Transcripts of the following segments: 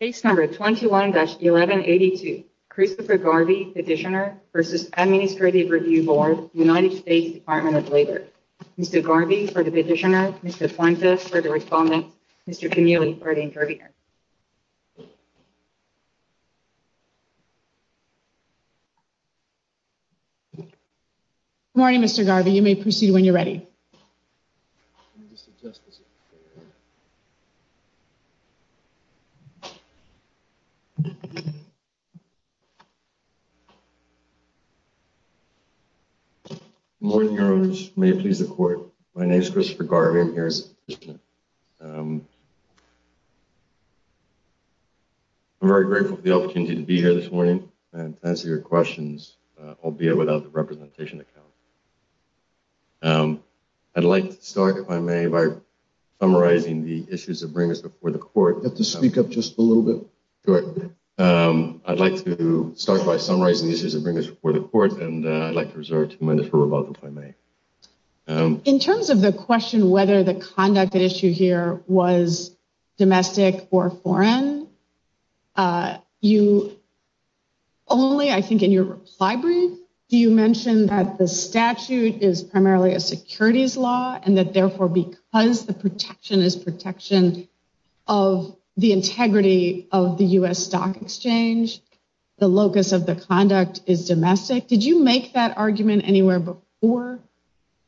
Case number 21-1182, Christopher Garvey, Petitioner v. Administrative Review Board, United States Department of Labor. Mr. Garvey for the Petitioner, Mr. Fuentes for the Respondent, Mr. Connealy for the Intervener. Good morning, Mr. Garvey. You may proceed when you're ready. Good morning, Your Honors. May it please the Court. My name is Christopher Garvey. I'm here as a Petitioner. I'm very grateful for the opportunity to be here this morning and to answer your questions, albeit without the representation account. I'd like to start, if I may, by summarizing the issues that bring us before the Court. You have to speak up just a little bit. Sure. I'd like to start by summarizing the issues that bring us before the Court, and I'd like to reserve two minutes for rebuttal, if I may. In terms of the question whether the conduct at issue here was domestic or foreign, only, I think, in your reply brief, do you mention that the statute is primarily a securities law and that, therefore, because the protection is protection of the integrity of the U.S. Stock Exchange, the locus of the conduct is domestic? Did you make that argument anywhere before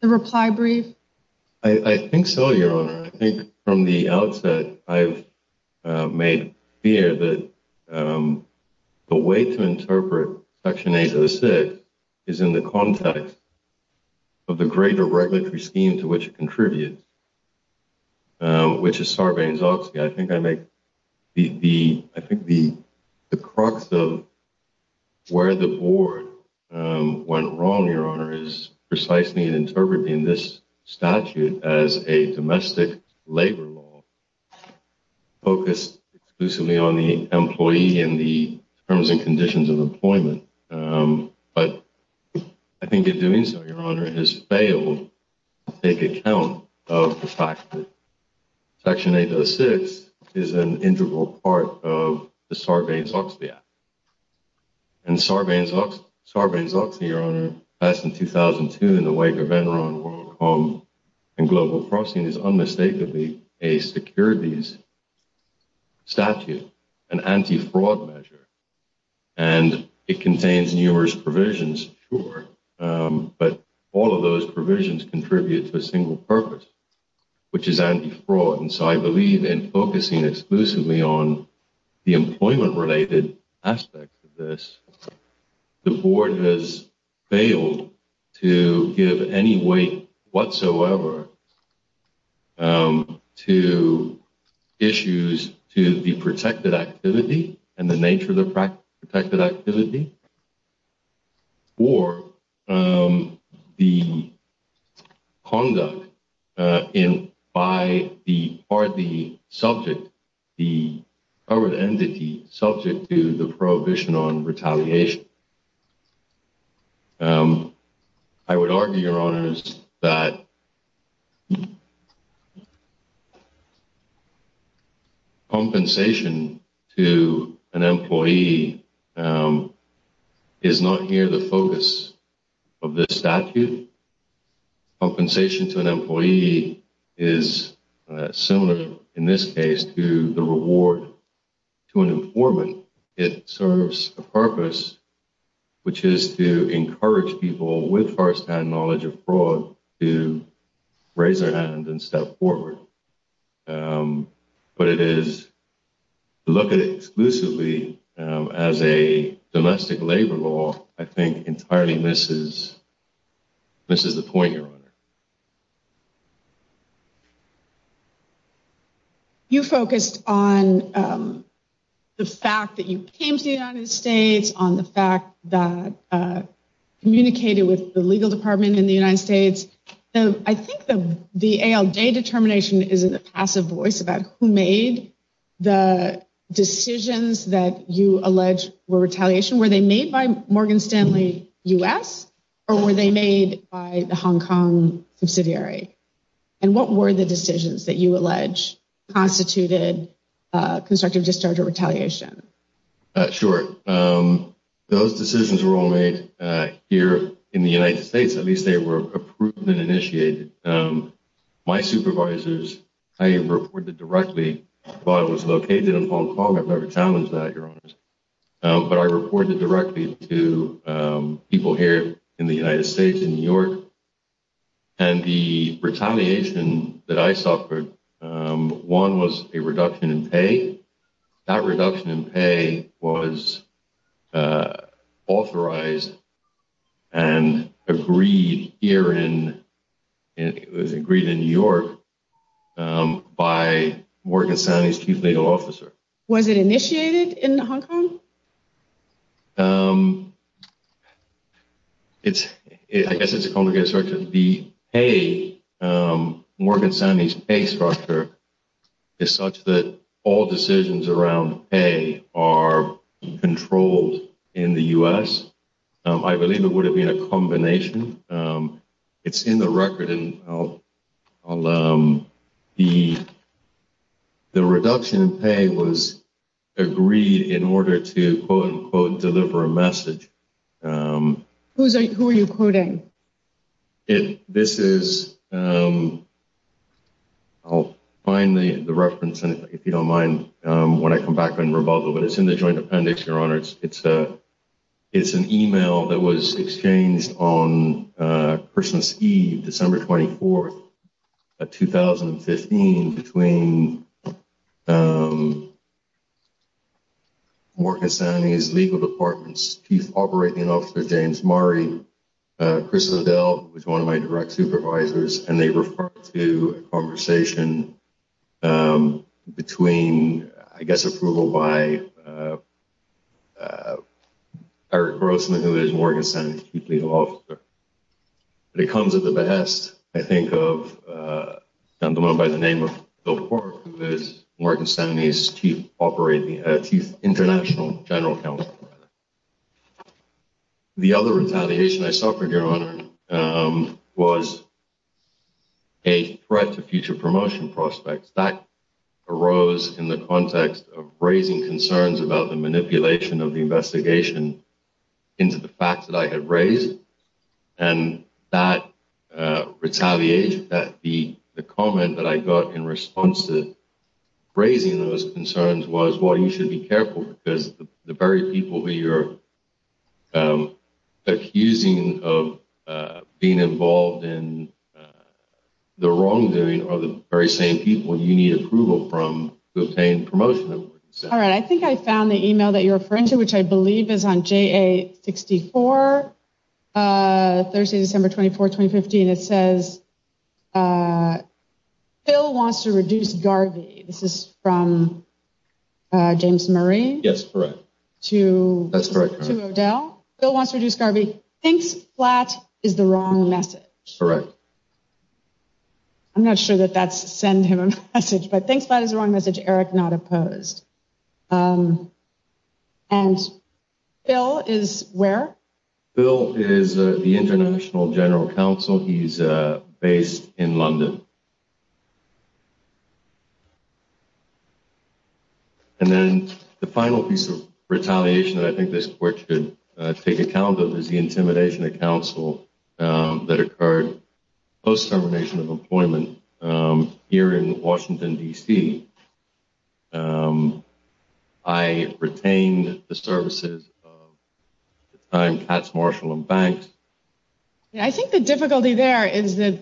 the reply brief? I think so, Your Honor. I think from the outset I've made clear that the way to interpret Section 806 is in the context of the greater regulatory scheme to which it contributes, which is Sarbanes-Oxley. I think the crux of where the Board went wrong, Your Honor, is precisely in interpreting this statute as a domestic labor law focused exclusively on the employee and the terms and conditions of employment. But I think in doing so, Your Honor, has failed to take account of the fact that Section 806 is an integral part of the Sarbanes-Oxley Act. And Sarbanes-Oxley, Your Honor, passed in 2002 in the wake of Enron, WorldCom, and global processing, is unmistakably a securities statute, an anti-fraud measure. And it contains numerous provisions, sure, but all of those provisions contribute to a single purpose, which is anti-fraud. And so I believe in focusing exclusively on the employment-related aspects of this, the Board has failed to give any weight whatsoever to issues to the protected activity and the nature of the protected activity or the conduct by the subject, the covered entity subject to the prohibition on retaliation. I would argue, Your Honors, that compensation to an employee is not here the focus of this statute. Compensation to an employee is similar in this case to the reward to an informant. It serves a purpose, which is to encourage people with first-hand knowledge of fraud to raise their hand and step forward. But to look at it exclusively as a domestic labor law, I think, entirely misses the point, Your Honor. You focused on the fact that you came to the United States, on the fact that you communicated with the legal department in the United States. I think the ALJ determination is a passive voice about who made the decisions that you allege were retaliation. Were they made by Morgan Stanley U.S., or were they made by the Hong Kong subsidiary? And what were the decisions that you allege constituted constructive discharge or retaliation? Sure. Those decisions were all made here in the United States. At least they were approved and initiated. My supervisors, I reported directly where I was located in Hong Kong. I've never challenged that, Your Honors. But I reported directly to people here in the United States, in New York. And the retaliation that I suffered, one was a reduction in pay. That reduction in pay was authorized and agreed here in New York by Morgan Stanley's chief legal officer. Was it initiated in Hong Kong? I guess it's a complicated structure. The Morgan Stanley's pay structure is such that all decisions around pay are controlled in the U.S. I believe it would have been a combination. It's in the record. The reduction in pay was agreed in order to, quote-unquote, deliver a message. Who are you quoting? This is... I'll find the reference, if you don't mind, when I come back on rebuttal. But it's in the joint appendix, Your Honors. It's an email that was exchanged on Christmas Eve, December 24, 2015, between Morgan Stanley's legal department's chief operating officer, James Murray, Chris O'Dell, who was one of my direct supervisors. And they referred to a conversation between, I guess, approval by Eric Grossman, who is Morgan Stanley's chief legal officer. And it comes at the behest, I think, of a gentleman by the name of Bill Porter, who is Morgan Stanley's chief international general counsel. The other retaliation I suffered, Your Honor, was a threat to future promotion prospects. That arose in the context of raising concerns about the manipulation of the investigation into the facts that I had raised. And that retaliation, the comment that I got in response to raising those concerns, was, well, you should be careful. Because the very people who you're accusing of being involved in the wrongdoing are the very same people you need approval from to obtain promotion. All right. I think I found the email that you're referring to, which I believe is on JA-64, Thursday, December 24, 2015. It says, Bill wants to reduce Garvey. This is from James Murray. Yes, correct. To O'Dell. Bill wants to reduce Garvey. Thinks Flatt is the wrong message. Correct. I'm not sure that that's send him a message, but thinks Flatt is the wrong message. Eric, not opposed. And Bill is where? Bill is the international general counsel. He's based in London. And then the final piece of retaliation that I think this court should take account of is the intimidation of counsel that occurred post-termination of employment here in Washington, D.C. I retained the services of the time Katz, Marshall and Banks. I think the difficulty there is that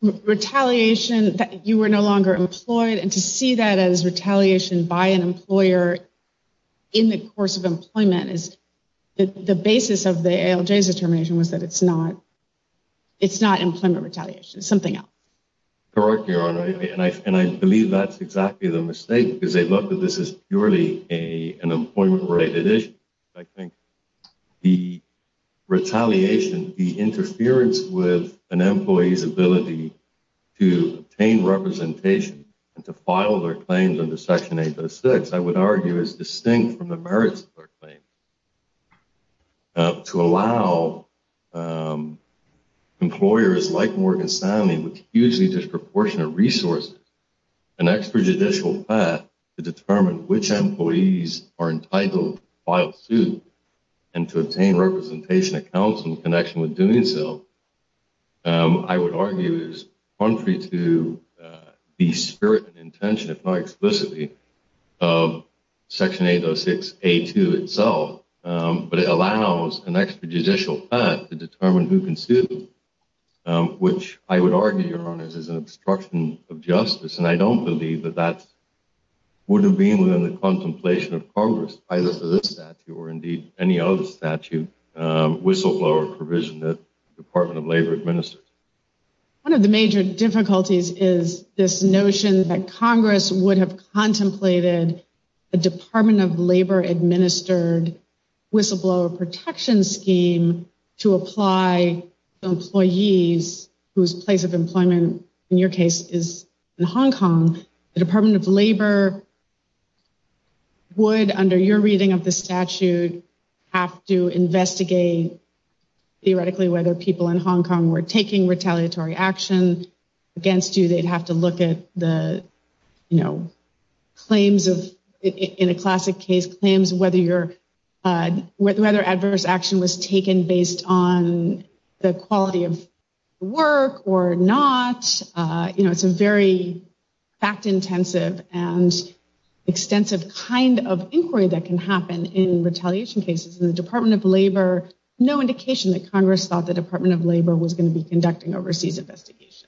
retaliation that you were no longer employed and to see that as retaliation by an employer in the course of employment is the basis of the ALJ's determination was that it's not. It's not employment retaliation. It's something else. Correct, Your Honor. And I believe that's exactly the mistake, because they look at this as purely an employment-related issue. I think the retaliation, the interference with an employee's ability to obtain representation and to file their claims under Section 806, I would argue, is distinct from the merits of their claim. To allow employers like Morgan Stanley, with hugely disproportionate resources, an extrajudicial path to determine which employees are entitled to file suit and to obtain representation of counsel in connection with doing so, I would argue is contrary to the spirit and intention, if not explicitly, of Section 806A2 itself. But it allows an extrajudicial path to determine who can sue them, which I would argue, Your Honor, is an obstruction of justice. And I don't believe that that would have been within the contemplation of Congress, either for this statute or, indeed, any other statute, whistleblower provision that the Department of Labor administers. One of the major difficulties is this notion that Congress would have contemplated a Department of Labor-administered whistleblower protection scheme to apply to employees whose place of employment, in your case, is in Hong Kong. The Department of Labor would, under your reading of the statute, have to investigate, theoretically, whether people in Hong Kong were taking retaliatory action against you. They'd have to look at the, you know, claims of, in a classic case, claims whether adverse action was taken based on the quality of work or not. You know, it's a very fact-intensive and extensive kind of inquiry that can happen in retaliation cases. And the Department of Labor, no indication that Congress thought the Department of Labor was going to be conducting overseas investigations.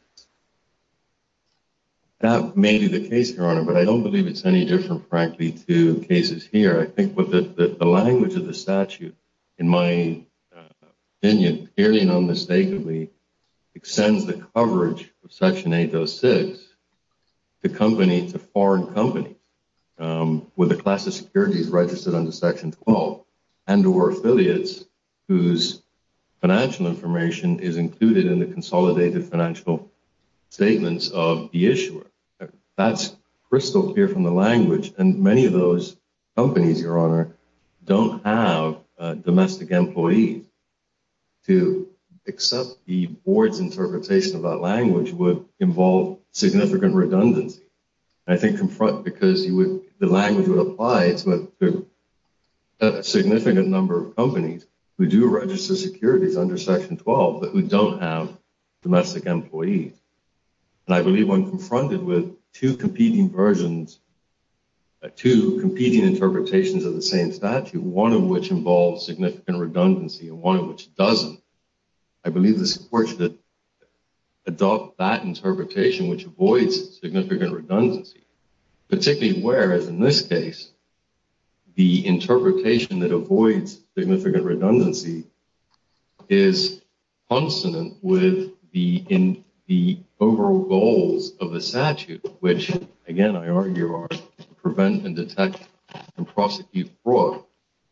That may be the case, Your Honor, but I don't believe it's any different, frankly, to cases here. I think the language of the statute, in my opinion, clearly and unmistakably extends the coverage of Section 806 to foreign companies with a class of securities registered under Section 12 and or affiliates whose financial information is included in the consolidated financial statements of the issuer. That's crystal clear from the language, and many of those companies, Your Honor, don't have domestic employees. To accept the board's interpretation of that language would involve significant redundancy. I think because the language would apply to a significant number of companies who do register securities under Section 12 but who don't have domestic employees. And I believe I'm confronted with two competing versions, two competing interpretations of the same statute, one of which involves significant redundancy and one of which doesn't. I believe this court should adopt that interpretation, which avoids significant redundancy, particularly where, as in this case, the interpretation that avoids significant redundancy is consonant with the overall goals of the statute, which, again, I argue are to prevent and detect and prosecute fraud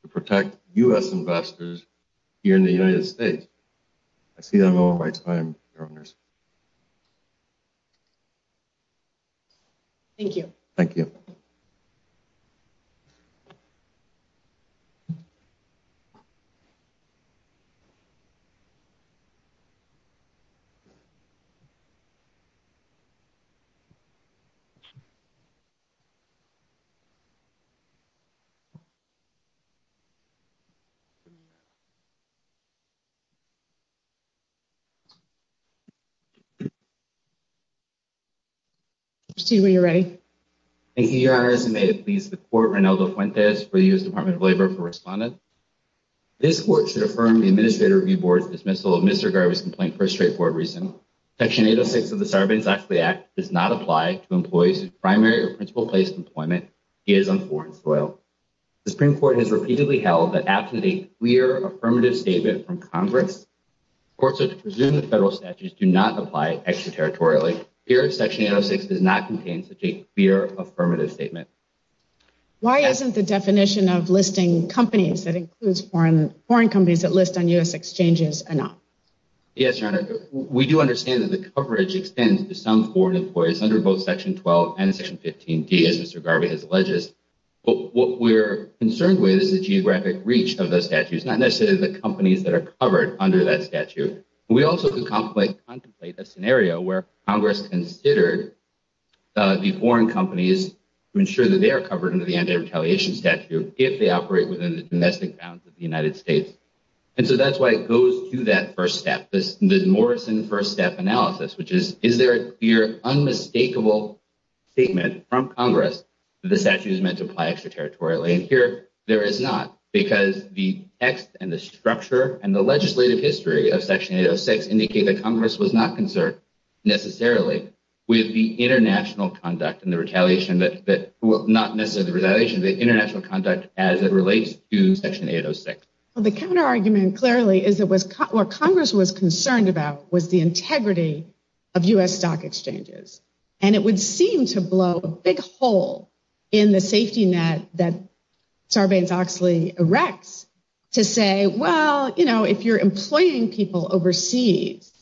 to protect U.S. investors here in the United States. I see that I'm over my time, Your Honors. Thank you. Thank you. Steve, are you ready? Thank you, Your Honors. May it please the Court, Reynaldo Fuentes for the U.S. Department of Labor for Respondent. This court should affirm the Administrator Review Board's dismissal of Mr. Garvey's complaint for a straightforward reason. Section 806 of the Sarbanes-Axley Act does not apply to employees whose primary or principal place of employment is on foreign soil. The Supreme Court has repeatedly held that absent a clear, affirmative statement from Congress, courts are to presume that federal statutes do not apply extraterritorially. Here, Section 806 does not contain such a clear, affirmative statement. Why isn't the definition of listing companies that includes foreign companies that list on U.S. exchanges enough? Yes, Your Honor, we do understand that the coverage extends to some foreign employees under both Section 12 and Section 15D, as Mr. Garvey has alleged. What we're concerned with is the geographic reach of those statutes, not necessarily the companies that are covered under that statute. We also contemplate a scenario where Congress considered the foreign companies to ensure that they are covered under the Anti-Retaliation Statute if they operate within the domestic bounds of the United States. And so that's why it goes to that first step, the Morrison First Step analysis, which is, is there a clear, unmistakable statement from Congress that the statute is meant to apply extraterritorially? And here, there is not, because the text and the structure and the legislative history of Section 806 indicate that Congress was not concerned, necessarily, with the international conduct and the retaliation, not necessarily the retaliation, but the international conduct as it relates to Section 806. The counter-argument, clearly, is that what Congress was concerned about was the integrity of U.S. stock exchanges. And it would seem to blow a big hole in the safety net that Sarbanes-Oxley erects to say, well, you know, if you're employing people overseas,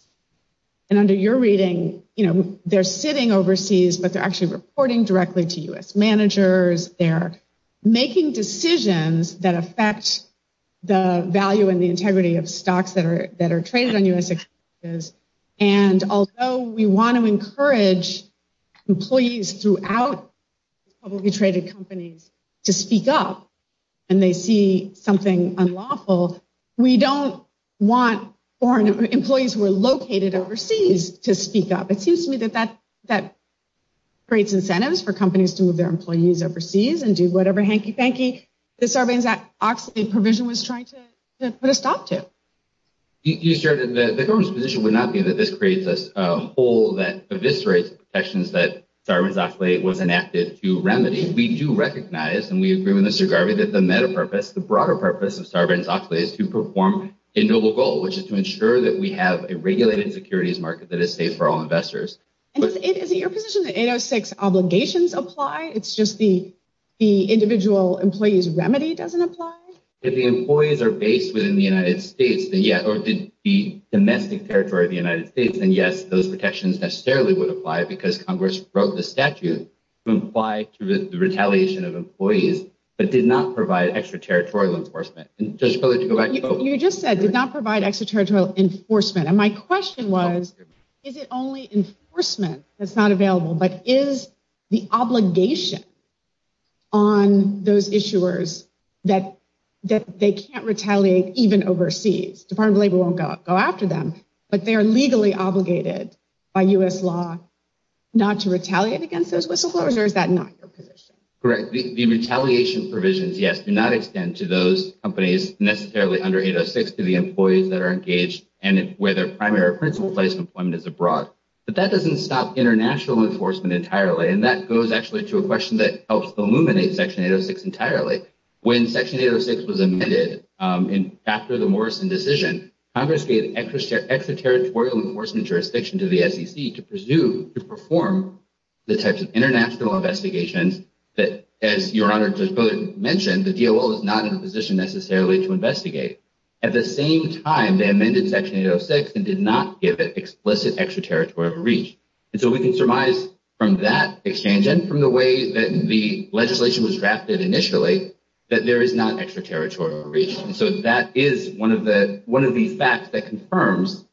and under your reading, you know, they're sitting overseas, but they're actually reporting directly to U.S. managers. They're making decisions that affect the value and the integrity of stocks that are traded on U.S. exchanges, and although we want to encourage employees throughout publicly traded companies to speak up, and they see something unlawful, we don't want employees who are located overseas to speak up. It seems to me that that creates incentives for companies to move their employees overseas and do whatever hanky-panky the Sarbanes-Oxley provision was trying to put a stop to. The government's position would not be that this creates a hole that eviscerates protections that Sarbanes-Oxley was enacted to remedy. We do recognize, and we agree with Mr. Garvey, that the meta-purpose, the broader purpose of Sarbanes-Oxley is to perform a noble goal, which is to ensure that we have a regulated securities market that is safe for all investors. And isn't your position that 806 obligations apply? It's just the individual employee's remedy doesn't apply? If the employees are based within the United States, or the domestic territory of the United States, then yes, those protections necessarily would apply because Congress wrote the statute to apply to the retaliation of employees, but did not provide extra-territorial enforcement. You just said, did not provide extra-territorial enforcement, and my question was, is it only enforcement that's not available, but is the obligation on those issuers that they can't retaliate even overseas? The Department of Labor won't go after them, but they are legally obligated by U.S. law not to retaliate against those whistleblowers, or is that not your position? Correct, the retaliation provisions, yes, do not extend to those companies necessarily under 806 to the employees that are engaged, and where their primary or principal place of employment is abroad. But that doesn't stop international enforcement entirely, and that goes actually to a question that helps illuminate Section 806 entirely. When Section 806 was amended after the Morrison decision, Congress gave extra-territorial enforcement jurisdiction to the SEC to presume to perform the types of international investigations that, as Your Honor Judge Bowdoin mentioned, the DOL is not in a position necessarily to investigate. At the same time, they amended Section 806 and did not give it explicit extra-territorial reach, and so we can surmise from that exchange and from the way that the legislation was drafted initially that there is not extra-territorial reach. And so that is one of the facts that confirms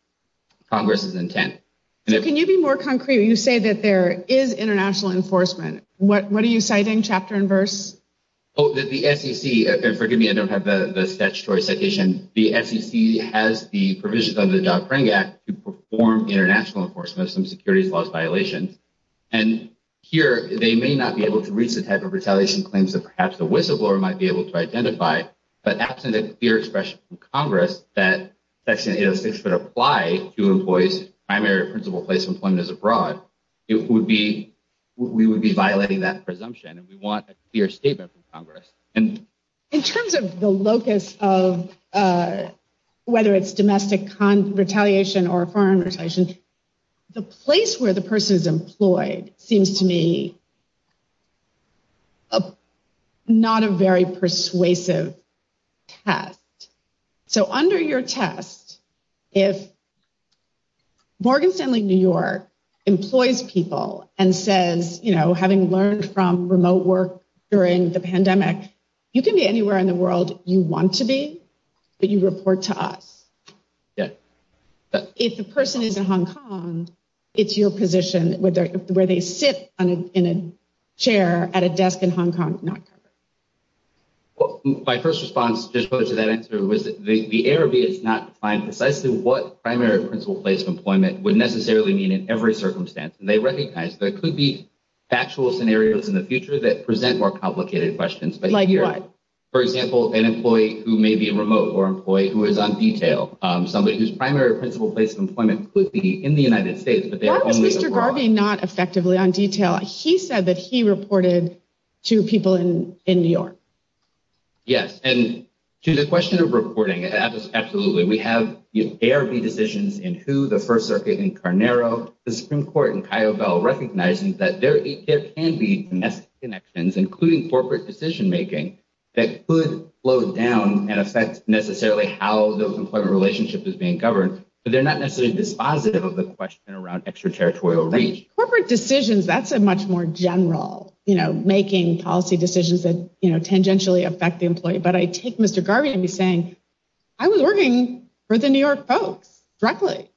Congress's intent. Can you be more concrete when you say that there is international enforcement? What are you citing, chapter and verse? The SEC – and forgive me, I don't have the statutory citation – the SEC has the provisions under the Job Training Act to perform international enforcement of some securities laws violations, and here they may not be able to reach the type of retaliation claims that perhaps the whistleblower might be able to identify, but absent a clear expression from Congress that Section 806 would apply to employees' primary or principal place of employment is abroad, we would be violating that presumption, and we want a clear statement from Congress. In terms of the locus of whether it's domestic retaliation or foreign retaliation, the place where the person is employed seems to me not a very persuasive test. So under your test, if Morgan Stanley New York employs people and says, you know, having learned from remote work during the pandemic, you can be anywhere in the world you want to be, but you report to us. If the person is in Hong Kong, it's your position where they sit in a chair at a desk in Hong Kong, not covered. My first response to that answer was that the ARB has not defined precisely what primary or principal place of employment would necessarily mean in every circumstance, and they recognize there could be factual scenarios in the future that present more complicated questions. Like what? For example, an employee who may be remote or an employee who is on detail. Somebody whose primary or principal place of employment could be in the United States, but they are only abroad. He said that he reported to people in New York. Yes, and to the question of reporting, absolutely. We have ARB decisions in who the First Circuit in Carnero, the Supreme Court in Kyobel recognizing that there can be connections, including corporate decision making that could slow down and affect necessarily how the employment relationship is being governed. But they're not necessarily dispositive of the question around extraterritorial reach. Corporate decisions, that's a much more general, you know, making policy decisions that, you know, tangentially affect the employee. But I take Mr. Garvey and be saying I was working for the New York folks directly.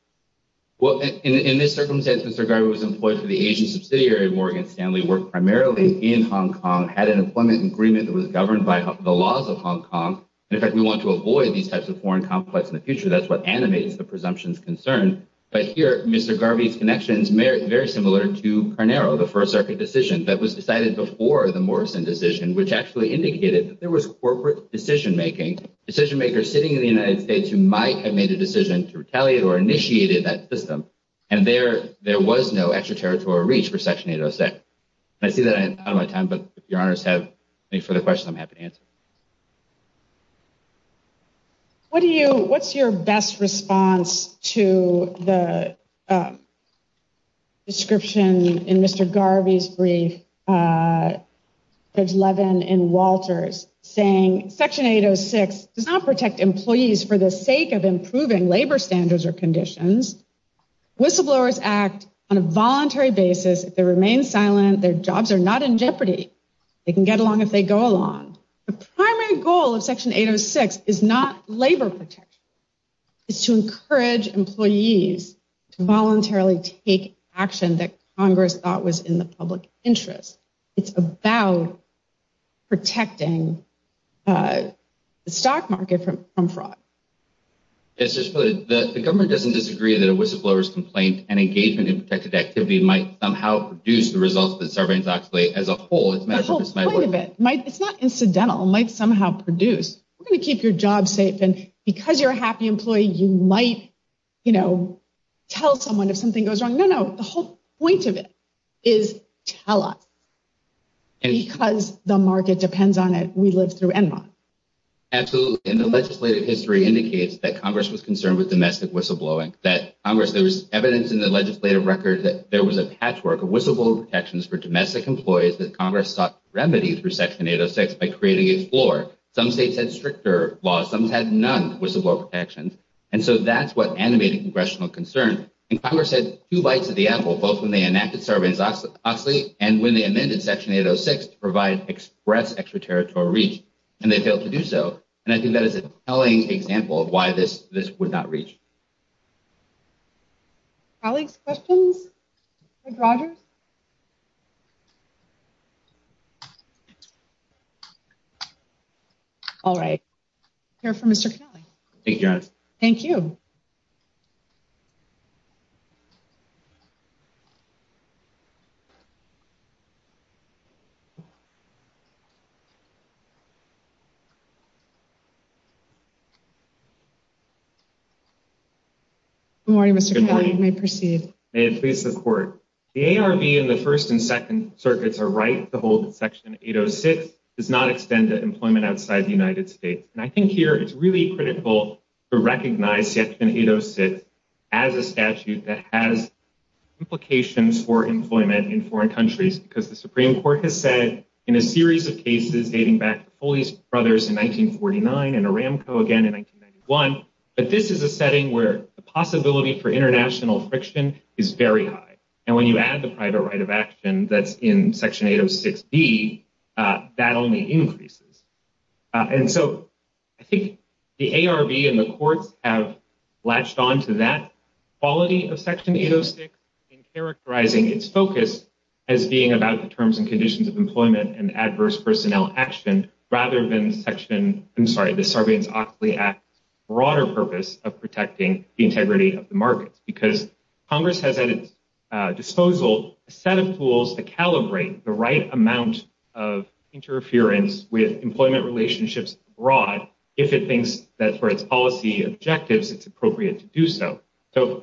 Well, in this circumstance, Mr. Garvey was employed for the Asian subsidiary of Morgan Stanley, worked primarily in Hong Kong, had an employment agreement that was governed by the laws of Hong Kong. In fact, we want to avoid these types of foreign conflicts in the future. That's what animates the presumptions concern. But here, Mr. Garvey's connections may be very similar to Carnero, the First Circuit decision that was decided before the Morrison decision, which actually indicated that there was corporate decision making decision makers sitting in the United States who might have made a decision to retaliate or initiated that system. And there there was no extraterritorial reach for Section 806. I see that I'm out of my time, but if your honors have any further questions, I'm happy to answer. What do you what's your best response to the. Description in Mr. Garvey's brief, there's Levin and Walters saying Section 806 does not protect employees for the sake of improving labor standards or conditions. Whistleblowers act on a voluntary basis. They remain silent. Their jobs are not in jeopardy. They can get along if they go along. The primary goal of Section 806 is not labor protection. It's to encourage employees to voluntarily take action that Congress thought was in the public interest. It's about protecting the stock market from fraud. It's just that the government doesn't disagree that a whistleblower's complaint and engagement in protected activity might somehow reduce the results of the survey as a whole. It's not incidental. It might somehow produce. We're going to keep your job safe. And because you're a happy employee, you might, you know, tell someone if something goes wrong. No, no. The whole point of it is tell us. And because the market depends on it, we live through and not absolutely. And the legislative history indicates that Congress was concerned with domestic whistleblowing that Congress. There was evidence in the legislative record that there was a patchwork of whistleblower protections for domestic employees that Congress sought remedy for Section 806 by creating a floor. Some states had stricter laws. Some had none whistleblower protections. And so that's what animated congressional concern. And Congress had two bites at the apple, both when they enacted Sarbanes-Oxley and when they amended Section 806 to provide express extraterritorial reach. And they failed to do so. And I think that is a telling example of why this this would not reach. Alex, questions. Rogers. All right. Here for Mr. Kelly. Thank you. Good morning, Mr. Kelly, may proceed and please support the ARV in the first and second circuits are right. The whole section 806 does not extend to employment outside the United States. And I think here it's really critical to recognize it. And it does sit as a statute that has implications for employment in foreign countries because the Supreme Court has said in a series of cases dating back police brothers in 1949 and Aramco again in one. But this is a setting where the possibility for international friction is very high. And when you add the private right of action that's in Section 806 B, that only increases. And so I think the ARV and the courts have latched on to that quality of Section 806 in characterizing its focus as being about the terms and conditions of employment and adverse personnel action. So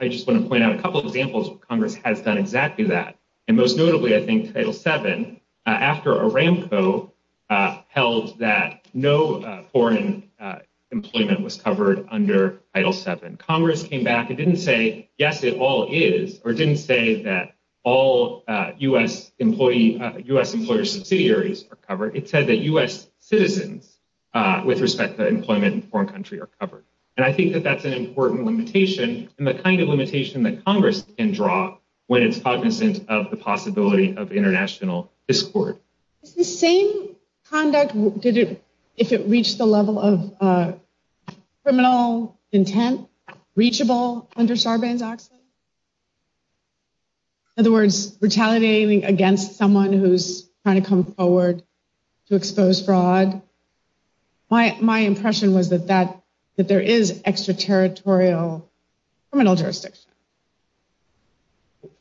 I just want to point out a couple of examples of Congress has done exactly that. And most notably, I think, Title seven, after Aramco held a meeting with Congress, which was held in January of last year. It held that no foreign employment was covered under Title seven. Congress came back and didn't say, yes, it all is or didn't say that all U.S. employee U.S. employer subsidiaries are covered. It said that U.S. citizens with respect to employment in foreign country are covered. And I think that that's an important limitation and the kind of limitation that Congress can draw when it's cognizant of the possibility of international discord. The same conduct did it if it reached the level of criminal intent reachable under Sarbanes-Oxley. In other words, retaliating against someone who's trying to come forward to expose fraud. My my impression was that that that there is extraterritorial criminal jurisdiction.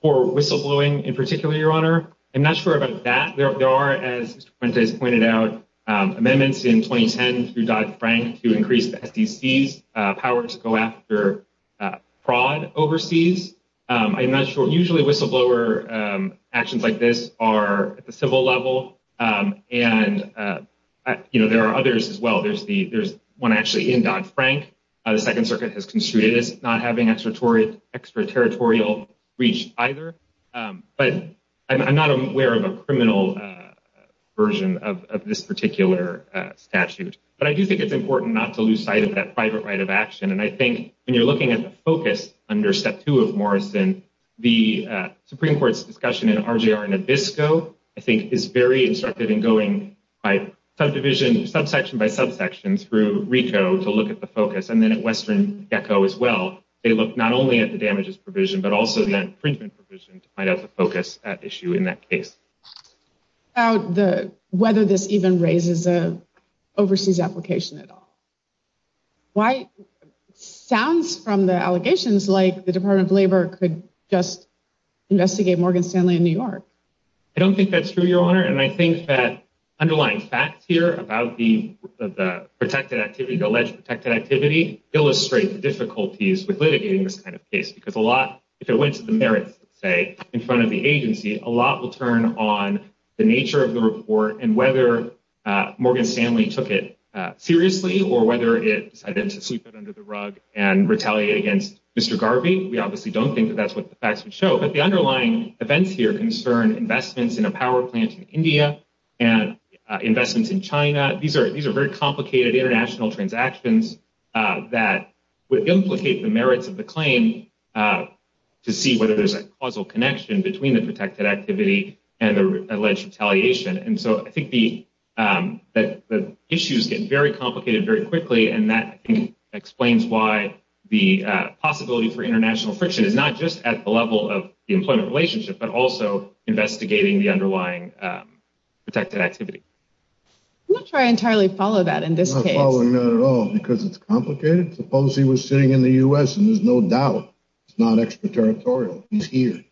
For whistleblowing in particular, your honor, I'm not sure about that. There are, as pointed out, amendments in 2010 to Dodd-Frank to increase the SDC's power to go after fraud overseas. I'm not sure. Usually whistleblower actions like this are at the civil level and there are others as well. There's the there's one actually in Dodd-Frank. The Second Circuit has construed it as not having extraterritorial reach either. But I'm not aware of a criminal version of this particular statute. But I do think it's important not to lose sight of that private right of action. And I think when you're looking at the focus under step two of Morrison, the Supreme Court's discussion in RJR Nabisco, I think, is very instructive in going by subdivision, subsection by subsection through RICO to look at the focus. And then at Western Gecko as well. They look not only at the damages provision, but also the infringement provision to find out the focus at issue in that case. The whether this even raises an overseas application at all. Why? Sounds from the allegations like the Department of Labor could just investigate Morgan Stanley in New York. I don't think that's true, Your Honor. And I think that underlying facts here about the protected activity, the alleged protected activity illustrate the difficulties with litigating this kind of case, because a lot if it went to the merits, say in front of the agency, a lot will turn on the nature of the report and whether Morgan Stanley took it seriously or whether it decided to sweep it under the rug and retaliate against Mr. Garvey. We obviously don't think that that's what the facts would show. But the underlying events here concern investments in a power plant in India and investments in China. These are these are very complicated international transactions that would implicate the merits of the claim to see whether there's a causal connection between the protected activity and the alleged retaliation. And so I think the issues get very complicated very quickly. And that explains why the possibility for international friction is not just at the level of the employment relationship, but also investigating the underlying protected activity. I'm not sure I entirely follow that in this case. I'm not following that at all, because it's complicated. Suppose he was sitting in the U.S. and there's no doubt it's not extraterritorial. He's here.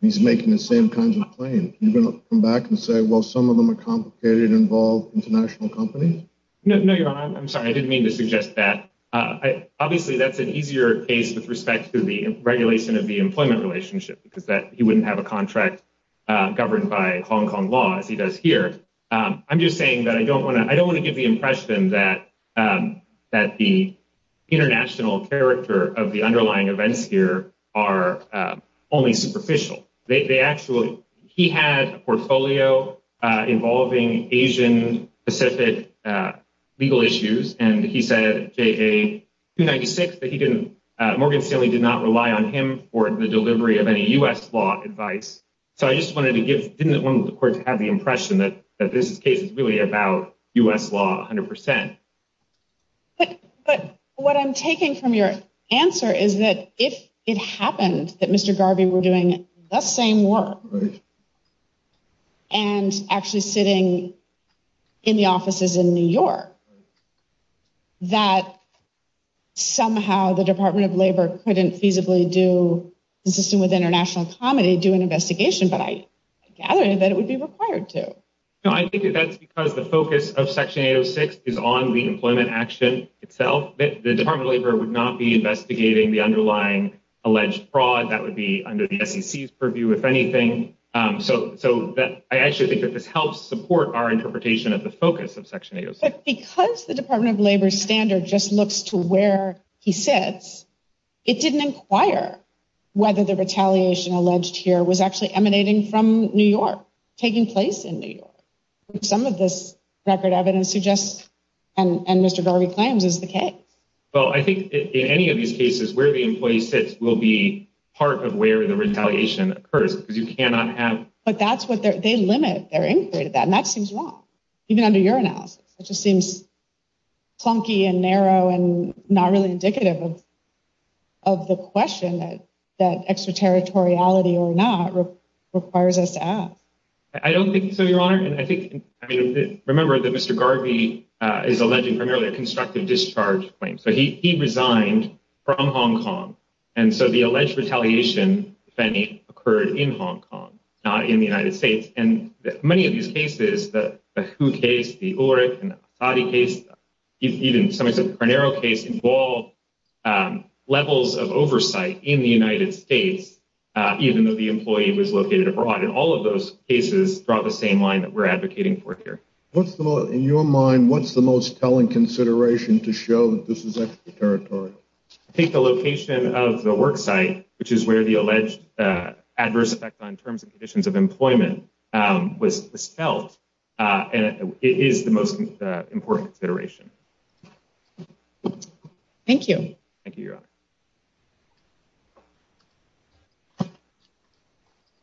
He's making the same kinds of claims. You're going to come back and say, well, some of them are complicated, involve international companies. No, Your Honor, I'm sorry. I didn't mean to suggest that. Obviously, that's an easier case with respect to the regulation of the employment relationship, because that he wouldn't have a contract governed by Hong Kong law as he does here. I'm just saying that I don't want to I don't want to give the impression that that the international character of the underlying events here are only superficial. They actually he had a portfolio involving Asian Pacific legal issues. And he said a ninety six that he didn't. Morgan Stanley did not rely on him for the delivery of any U.S. law advice. So I just wanted to give the court to have the impression that this case is really about U.S. law. Hundred percent. But what I'm taking from your answer is that if it happened that Mr. Garvey were doing the same work. And actually sitting in the offices in New York. That somehow the Department of Labor couldn't feasibly do consistent with international comedy, do an investigation. But I gather that it would be required to. I think that's because the focus of Section 806 is on the employment action itself. The Department of Labor would not be investigating the underlying alleged fraud. That would be under the SEC's purview, if anything. So so that I actually think that this helps support our interpretation of the focus of Section 8. Because the Department of Labor standard just looks to where he sits. It didn't inquire whether the retaliation alleged here was actually emanating from New York taking place in New York. Some of this record evidence suggests. And Mr. Garvey claims is the case. Well, I think in any of these cases where the employee sits will be part of where the retaliation occurs because you cannot have. But that's what they limit their inquiry to that. And that seems wrong. Even under your analysis, it just seems clunky and narrow and not really indicative of. Of the question that that extraterritoriality or not requires us to ask. I don't think so, Your Honor. And I think I mean, remember that Mr. Garvey is alleging primarily a constructive discharge claim. So he resigned from Hong Kong. And so the alleged retaliation, if any, occurred in Hong Kong, not in the United States. And many of these cases, the who case, the or a case, even some of the narrow case involved levels of oversight in the United States. Even though the employee was located abroad in all of those cases, brought the same line that we're advocating for here. What's the law in your mind? What's the most telling consideration to show that this is extraterritorial? Take the location of the work site, which is where the alleged adverse effect on terms and conditions of employment was felt. And it is the most important consideration. Thank you. Thank you.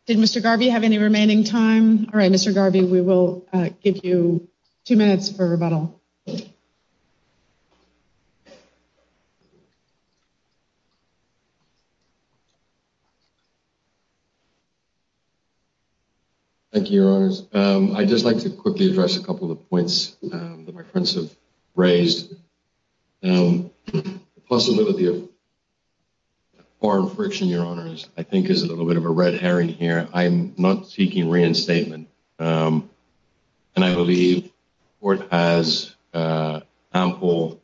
Did Mr. Garvey have any remaining time? All right, Mr. Garvey, we will give you two minutes for rebuttal. Thank you, Your Honors. I'd just like to quickly address a couple of points that my friends have raised. Possibility of foreign friction, Your Honors, I think is a little bit of a red herring here. I'm not seeking reinstatement. And I believe it has ample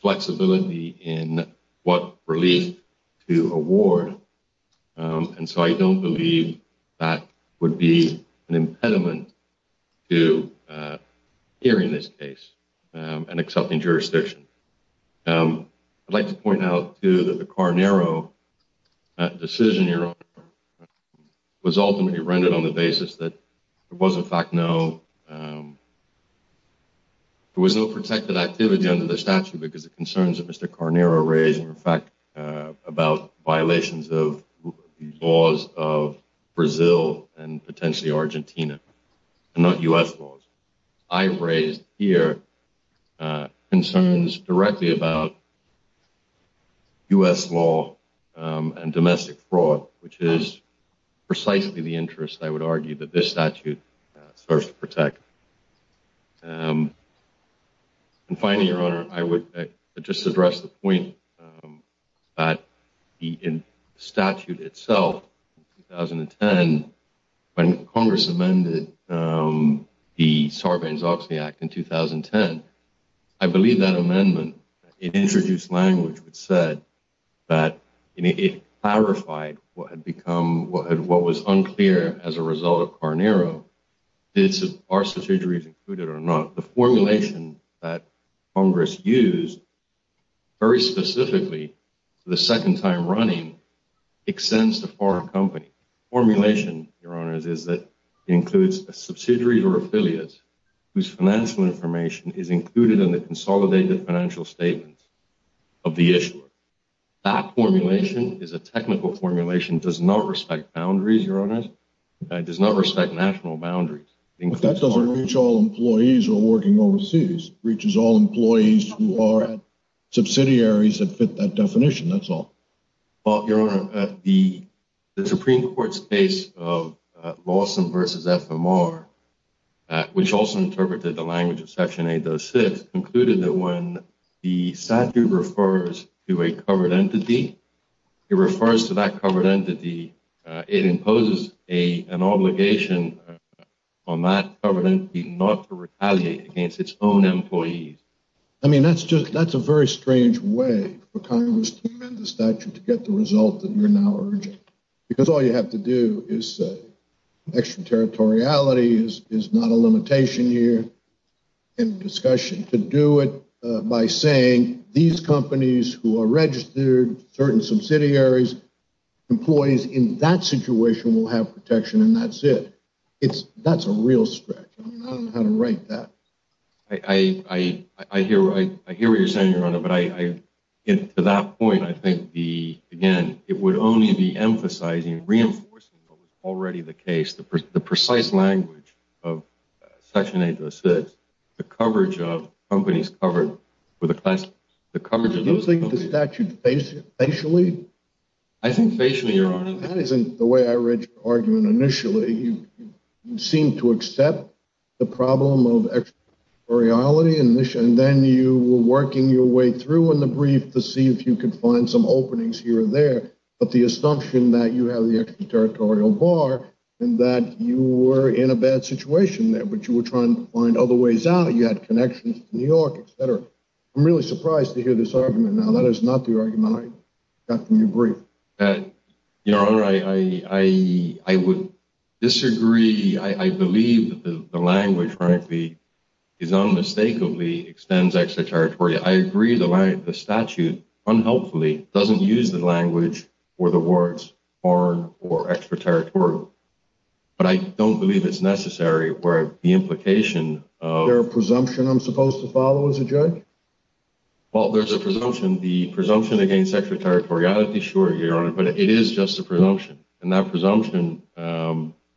flexibility in what relief to award. And so I don't believe that would be an impediment to hearing this case and accepting jurisdiction. I'd like to point out, too, that the Carnero decision was ultimately rendered on the basis that there was, in fact, no. There was no protected activity under the statute because the concerns of Mr. Carnero raised, in fact, about violations of laws of Brazil and potentially Argentina and not U.S. laws. I've raised here concerns directly about U.S. law and domestic fraud, which is precisely the interest, I would argue, that this statute serves to protect. And finally, Your Honor, I would just address the point that the statute itself, 2010, when Congress amended the Sarbanes-Oxley Act in 2010, I believe that amendment, it introduced language which said that it clarified what had become, what was unclear as a result of Carnero. Did our subsidiaries include it or not? The formulation that Congress used very specifically for the second time running extends to foreign companies. The formulation, Your Honor, is that it includes a subsidiary or affiliate whose financial information is included in the consolidated financial statements of the issuer. That formulation is a technical formulation. It does not respect boundaries, Your Honor. It does not respect national boundaries. But that doesn't reach all employees who are working overseas. It reaches all employees who are subsidiaries that fit that definition, that's all. Well, Your Honor, the Supreme Court's case of Lawson v. FMR, which also interpreted the language of Section 806, concluded that when the statute refers to a covered entity, it refers to that covered entity. It imposes an obligation on that covered entity not to retaliate against its own employees. I mean, that's just that's a very strange way for Congress to amend the statute to get the result that you're now urging. Because all you have to do is say extraterritoriality is not a limitation here. And discussion to do it by saying these companies who are registered, certain subsidiaries, employees in that situation will have protection and that's it. That's a real stretch. I don't know how to write that. I hear what you're saying, Your Honor, but to that point, I think, again, it would only be emphasizing, reinforcing what was already the case, the precise language of Section 806, the coverage of companies covered with a class, the coverage of those companies. Do you think the statute faced it facially? I think facially, Your Honor. That isn't the way I read your argument initially. You seem to accept the problem of extraterritoriality. And then you were working your way through in the brief to see if you could find some openings here or there. But the assumption that you have the extraterritorial bar and that you were in a bad situation there, but you were trying to find other ways out, you had connections to New York, et cetera. I'm really surprised to hear this argument now. That is not the argument I got from your brief. Your Honor, I would disagree. I believe the language, frankly, is unmistakably extends extraterritorial. I agree the statute unhelpfully doesn't use the language or the words foreign or extraterritorial. But I don't believe it's necessary where the implication of... Is there a presumption I'm supposed to follow as a judge? Well, there's a presumption. The presumption against extraterritoriality, sure, Your Honor, but it is just a presumption. And that presumption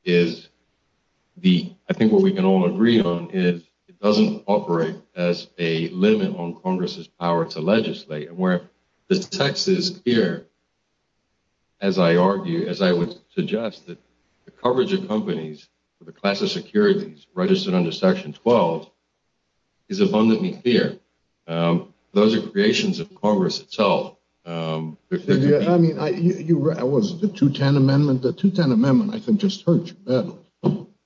is the... I think what we can all agree on is it doesn't operate as a limit on Congress's power to legislate. And where the text is here, as I argue, as I would suggest, is that the coverage of companies with a class of securities registered under Section 12 is abundantly clear. Those are creations of Congress itself. I mean, was it the 210 Amendment? The 210 Amendment, I think, just hurt you badly.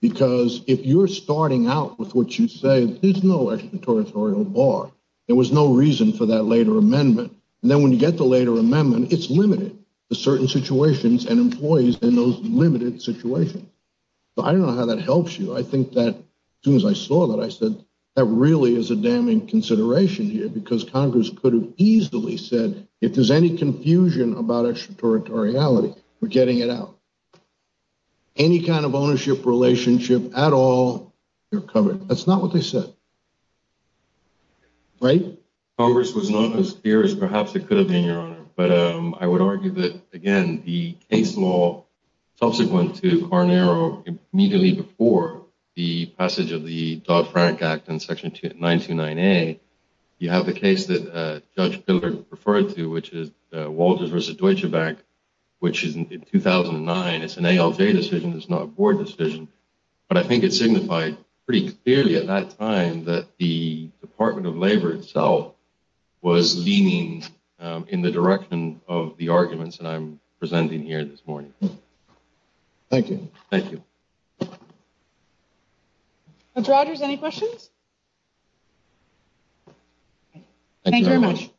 Because if you're starting out with what you say, there's no extraterritorial bar. There was no reason for that later amendment. And then when you get the later amendment, it's limited to certain situations and employees in those limited situations. But I don't know how that helps you. I think that as soon as I saw that, I said, that really is a damning consideration here, because Congress could have easily said, if there's any confusion about extraterritoriality, we're getting it out. Any kind of ownership relationship at all, you're covered. That's not what they said. Right? I think that Congress was not as clear as perhaps it could have been, Your Honor. But I would argue that, again, the case law subsequent to Carnero immediately before the passage of the Dodd-Frank Act and Section 929A, you have the case that Judge Pillard referred to, which is Walters v. Deutsche Bank, which is in 2009. It's an ALJ decision. It's not a board decision. But I think it signified pretty clearly at that time that the Department of Labor itself was leaning in the direction of the arguments that I'm presenting here this morning. Thank you. Thank you. Judge Rogers, any questions? Thank you very much.